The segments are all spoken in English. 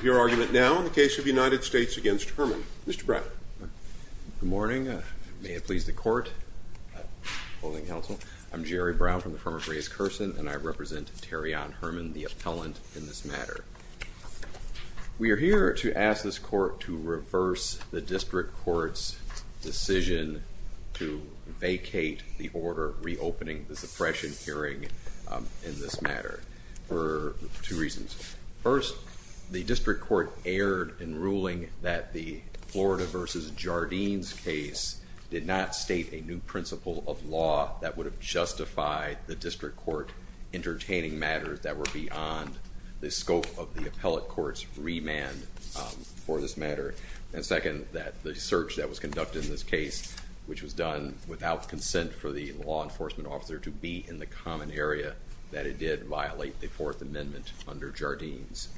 Good morning. May it please the court. I'm Jerry Brown from the firm of Ray's Kersen and I represent Terrion Herman, the appellant in this matter. We are here to ask this court to reverse the district court's decision to vacate the order reopening the suppression hearing in this matter for two reasons. First, the district court erred in ruling that the Florida v. Jardines case did not state a new principle of law that would have justified the district court entertaining matters that were beyond the scope of the appellate court's remand for this matter. And second, that the search that was conducted in this case, which was done without consent for the law enforcement officer to be in the common area, that it did violate the Fourth Amendment under Jardines.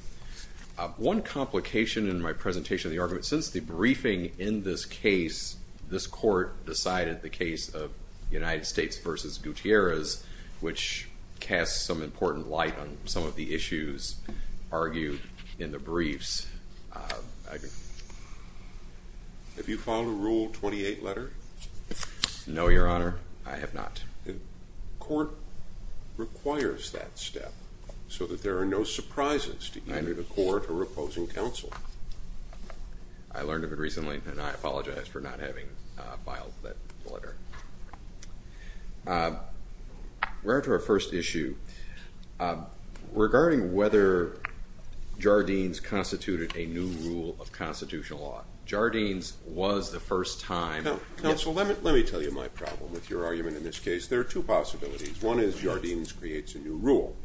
One complication in my presentation of the argument, since the briefing in this case, this court decided the case of United States v. Gutierrez, which casts some important light on some of the issues argued in the briefs. Have you filed a Rule 28 letter? No, Your Honor. I have not. The court requires that step so that there are no surprises to either the court or opposing counsel. I learned of it recently and I apologize for not having filed that letter. Regarding our first issue, regarding whether Jardines constituted a new rule of constitutional law, Jardines was the first time- Counsel, let me tell you my problem with your argument in this case. There are two possibilities. One is Jardines creates a new rule.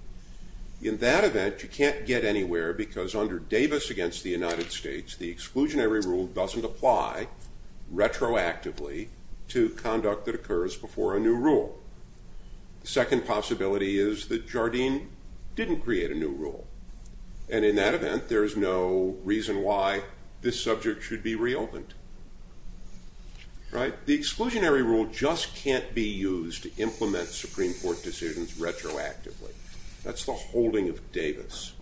In that event, you can't get anywhere because under Davis v. United States, the exclusionary rule doesn't apply retroactively to conduct that occurs before a new rule. The second possibility is that Jardines didn't create a new rule. And in that event, there is no reason why this subject should be reopened. Right? The exclusionary rule just can't be used to implement Supreme Court decisions retroactively. That's the holding of Davis.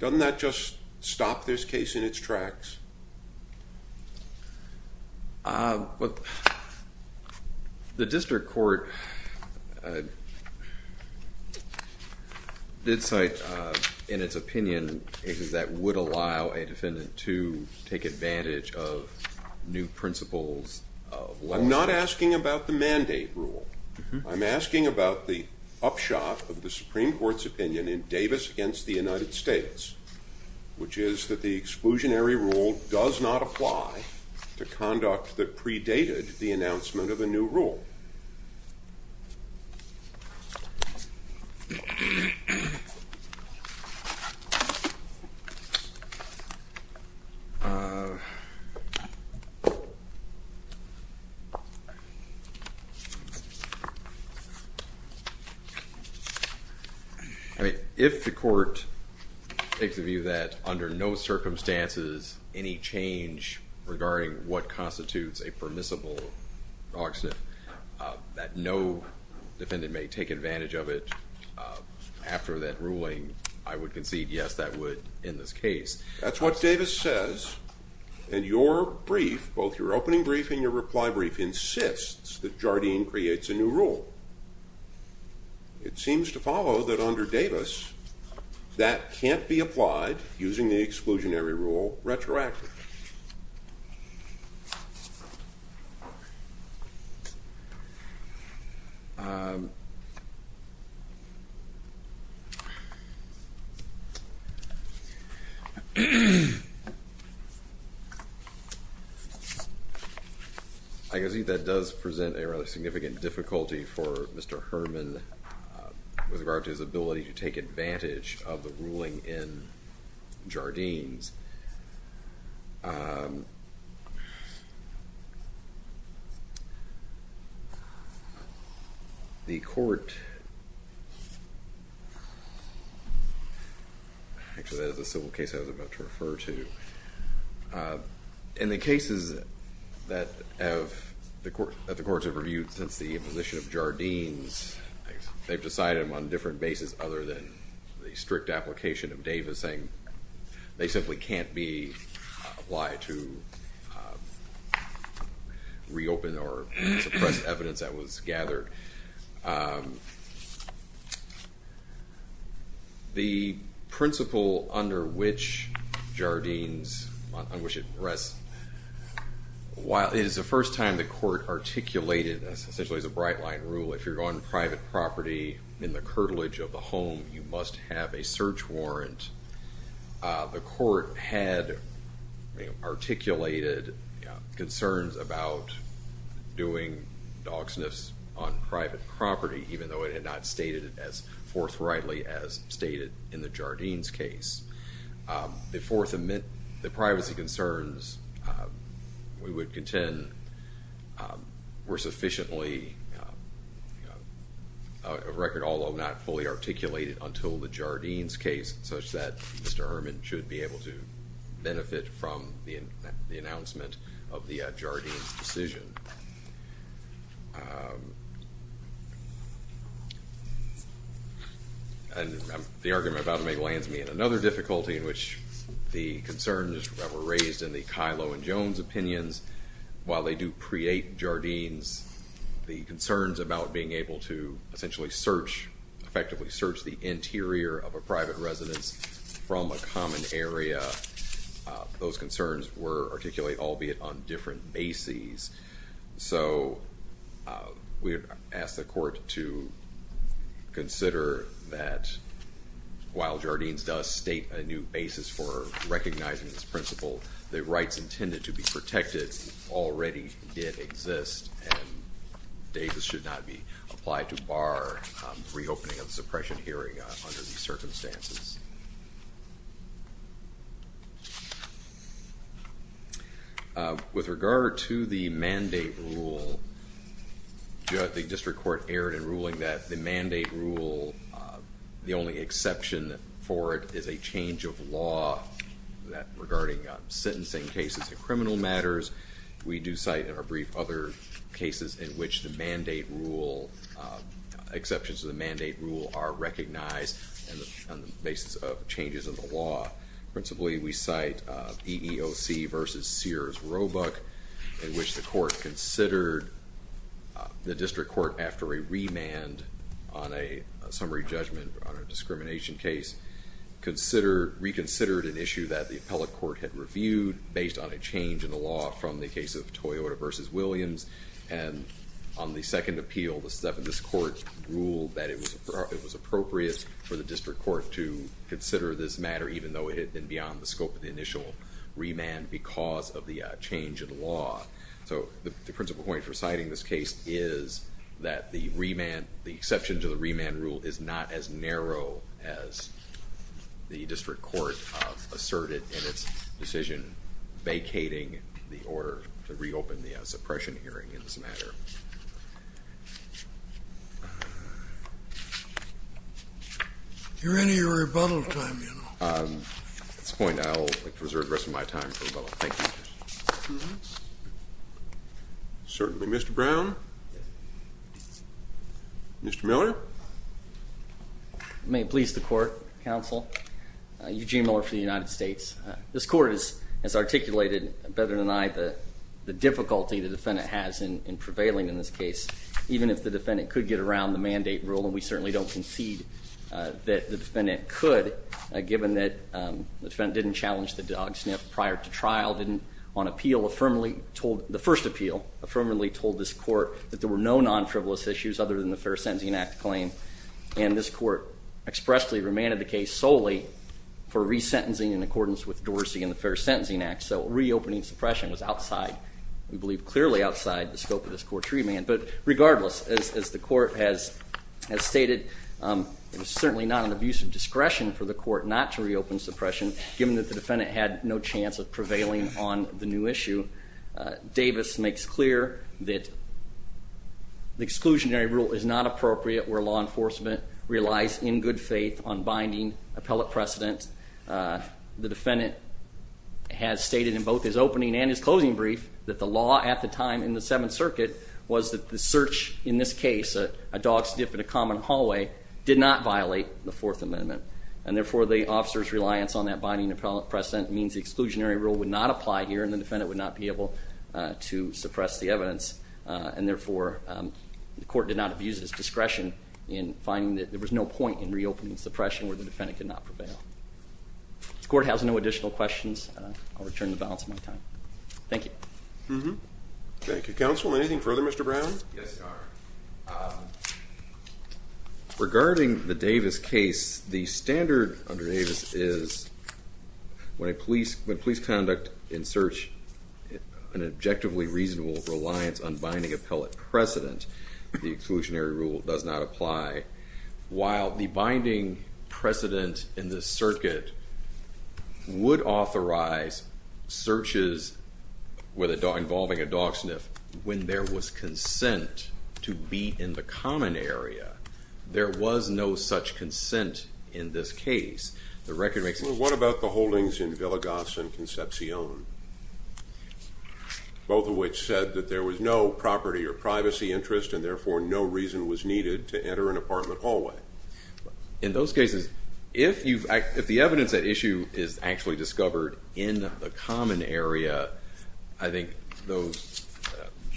Doesn't that just stop this case in its tracks? The district court did cite in its opinion cases that would allow a defendant to take advantage of new principles of law. I'm not asking about the mandate rule. I'm asking about the upshot of the Supreme Court's opinion in Davis v. United States, which is that the exclusionary rule does not apply to conduct that predated the announcement of a new rule. If the court takes a view that under no circumstances any change regarding what constitutes a permissible accident, that no defendant may take advantage of it after that ruling, I would concede yes, that would end this case. That's what Davis says, and your brief, both your opening brief and your reply brief, insists that Jardines creates a new rule. It seems to follow that under Davis, that can't be applied using the exclusionary rule retroactively. I can see that does present a rather significant difficulty for Mr. Herman with regard to his ability to take advantage of the ruling in Jardines. Actually, that is a civil case I was about to refer to. In the cases that the courts have reviewed since the imposition of Jardines, they've decided on a different basis other than the strict application of Davis, saying they simply can't be applied to reopen or suppress evidence that was gathered. The principle under which Jardines, on which it rests, while it is the first time the court articulated this, essentially as a bright line rule, if you're on private property, in the curtilage of the home, you must have a search warrant. The court had articulated concerns about doing dog sniffs on private property, even though it had not stated it as forthrightly as stated in the Jardines case. The fourth, the privacy concerns, we would contend, were sufficiently of record, although not fully articulated until the Jardines case, such that Mr. Herman should be able to benefit from the announcement of the Jardines decision. The argument I'm about to make lands me in another difficulty, in which the concerns that were raised in the Kylo and Jones opinions, while they do create Jardines, the concerns about being able to effectively search the interior of a private residence from a common area, those concerns were articulated, albeit on different bases. So we ask the court to consider that while Jardines does state a new basis for recognizing this principle, the rights intended to be protected already did exist, and Davis should not be applied to bar reopening of the suppression hearing under these circumstances. With regard to the mandate rule, the district court erred in ruling that the mandate rule, the only exception for it is a change of law regarding sentencing cases and criminal matters. We do cite in our brief other cases in which the exceptions to the mandate rule are recognized on the basis of changes in the law. Principally, we cite EEOC v. Sears Roebuck, in which the district court, after a remand on a summary judgment on a discrimination case, reconsidered an issue that the appellate court had reviewed based on a change in the law from the case of Toyota v. Williams. And on the second appeal, this court ruled that it was appropriate for the district court to consider this matter, even though it had been beyond the scope of the initial remand because of the change in the law. So the principal point for citing this case is that the exception to the remand rule is not as narrow as the district court asserted in its decision vacating the order to reopen the suppression hearing. It doesn't matter. You're in your rebuttal time, you know. At this point, I'll reserve the rest of my time for rebuttal. Thank you. Certainly. Mr. Brown? Mr. Miller? May it please the court, counsel. Eugene Miller for the United States. This court has articulated, better than I, the difficulty the defendant has in prevailing in this case, even if the defendant could get around the mandate rule, and we certainly don't concede that the defendant could, given that the defendant didn't challenge the dog sniff prior to trial, didn't, on appeal, the first appeal affirmatively told this court that there were no non-frivolous issues other than the fair sentencing act claim, and this court expressly remanded the case solely for resentencing in accordance with Dorsey and the fair sentencing act. So reopening suppression was outside, we believe clearly outside, the scope of this court's remand. But regardless, as the court has stated, it was certainly not an abuse of discretion for the court not to reopen suppression, given that the defendant had no chance of prevailing on the new issue. Davis makes clear that the exclusionary rule is not appropriate where law enforcement relies in good faith on binding appellate precedent. The defendant has stated in both his opening and his closing brief that the law at the time in the Seventh Circuit was that the search in this case, a dog sniff in a common hallway, did not violate the Fourth Amendment, and therefore the officer's reliance on that binding appellate precedent means the exclusionary rule would not apply here and the defendant would not be able to suppress the evidence, and therefore the court did not abuse its discretion in finding that there was no point in reopening suppression where the defendant could not prevail. If the court has no additional questions, I'll return the balance of my time. Thank you. Thank you. Yes, Your Honor. Regarding the Davis case, the standard under Davis is when police conduct in search an objectively reasonable reliance on binding appellate precedent, the exclusionary rule does not apply. While the binding precedent in this circuit would authorize searches involving a dog sniff when there was consent to be in the common area, there was no such consent in this case. What about the holdings in Villegas and Concepcion, both of which said that there was no property or privacy interest and therefore no reason was needed to enter an apartment hallway? In those cases, if the evidence at issue is actually discovered in the common area, I think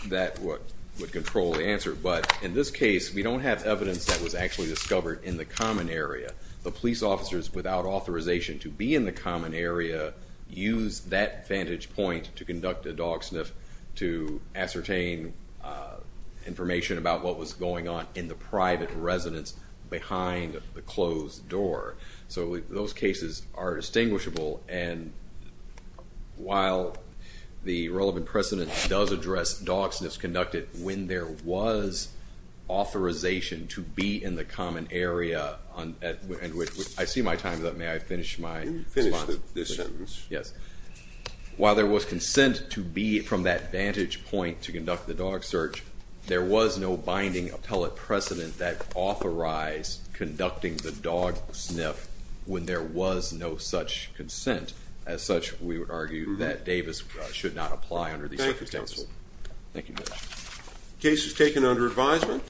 that would control the answer. But in this case, we don't have evidence that was actually discovered in the common area. The police officers without authorization to be in the common area used that vantage point to conduct a dog sniff to ascertain information about what was going on in the private residence behind the closed door. So those cases are distinguishable. And while the relevant precedent does address dog sniffs conducted when there was authorization to be in the common area, I see my time is up. May I finish my response? Finish this sentence. Yes. While there was consent to be from that vantage point to conduct the dog search, there was no binding appellate precedent that authorized conducting the dog sniff when there was no such consent. As such, we would argue that Davis should not apply under these circumstances. Thank you, counsel. Thank you. Case is taken under advisement.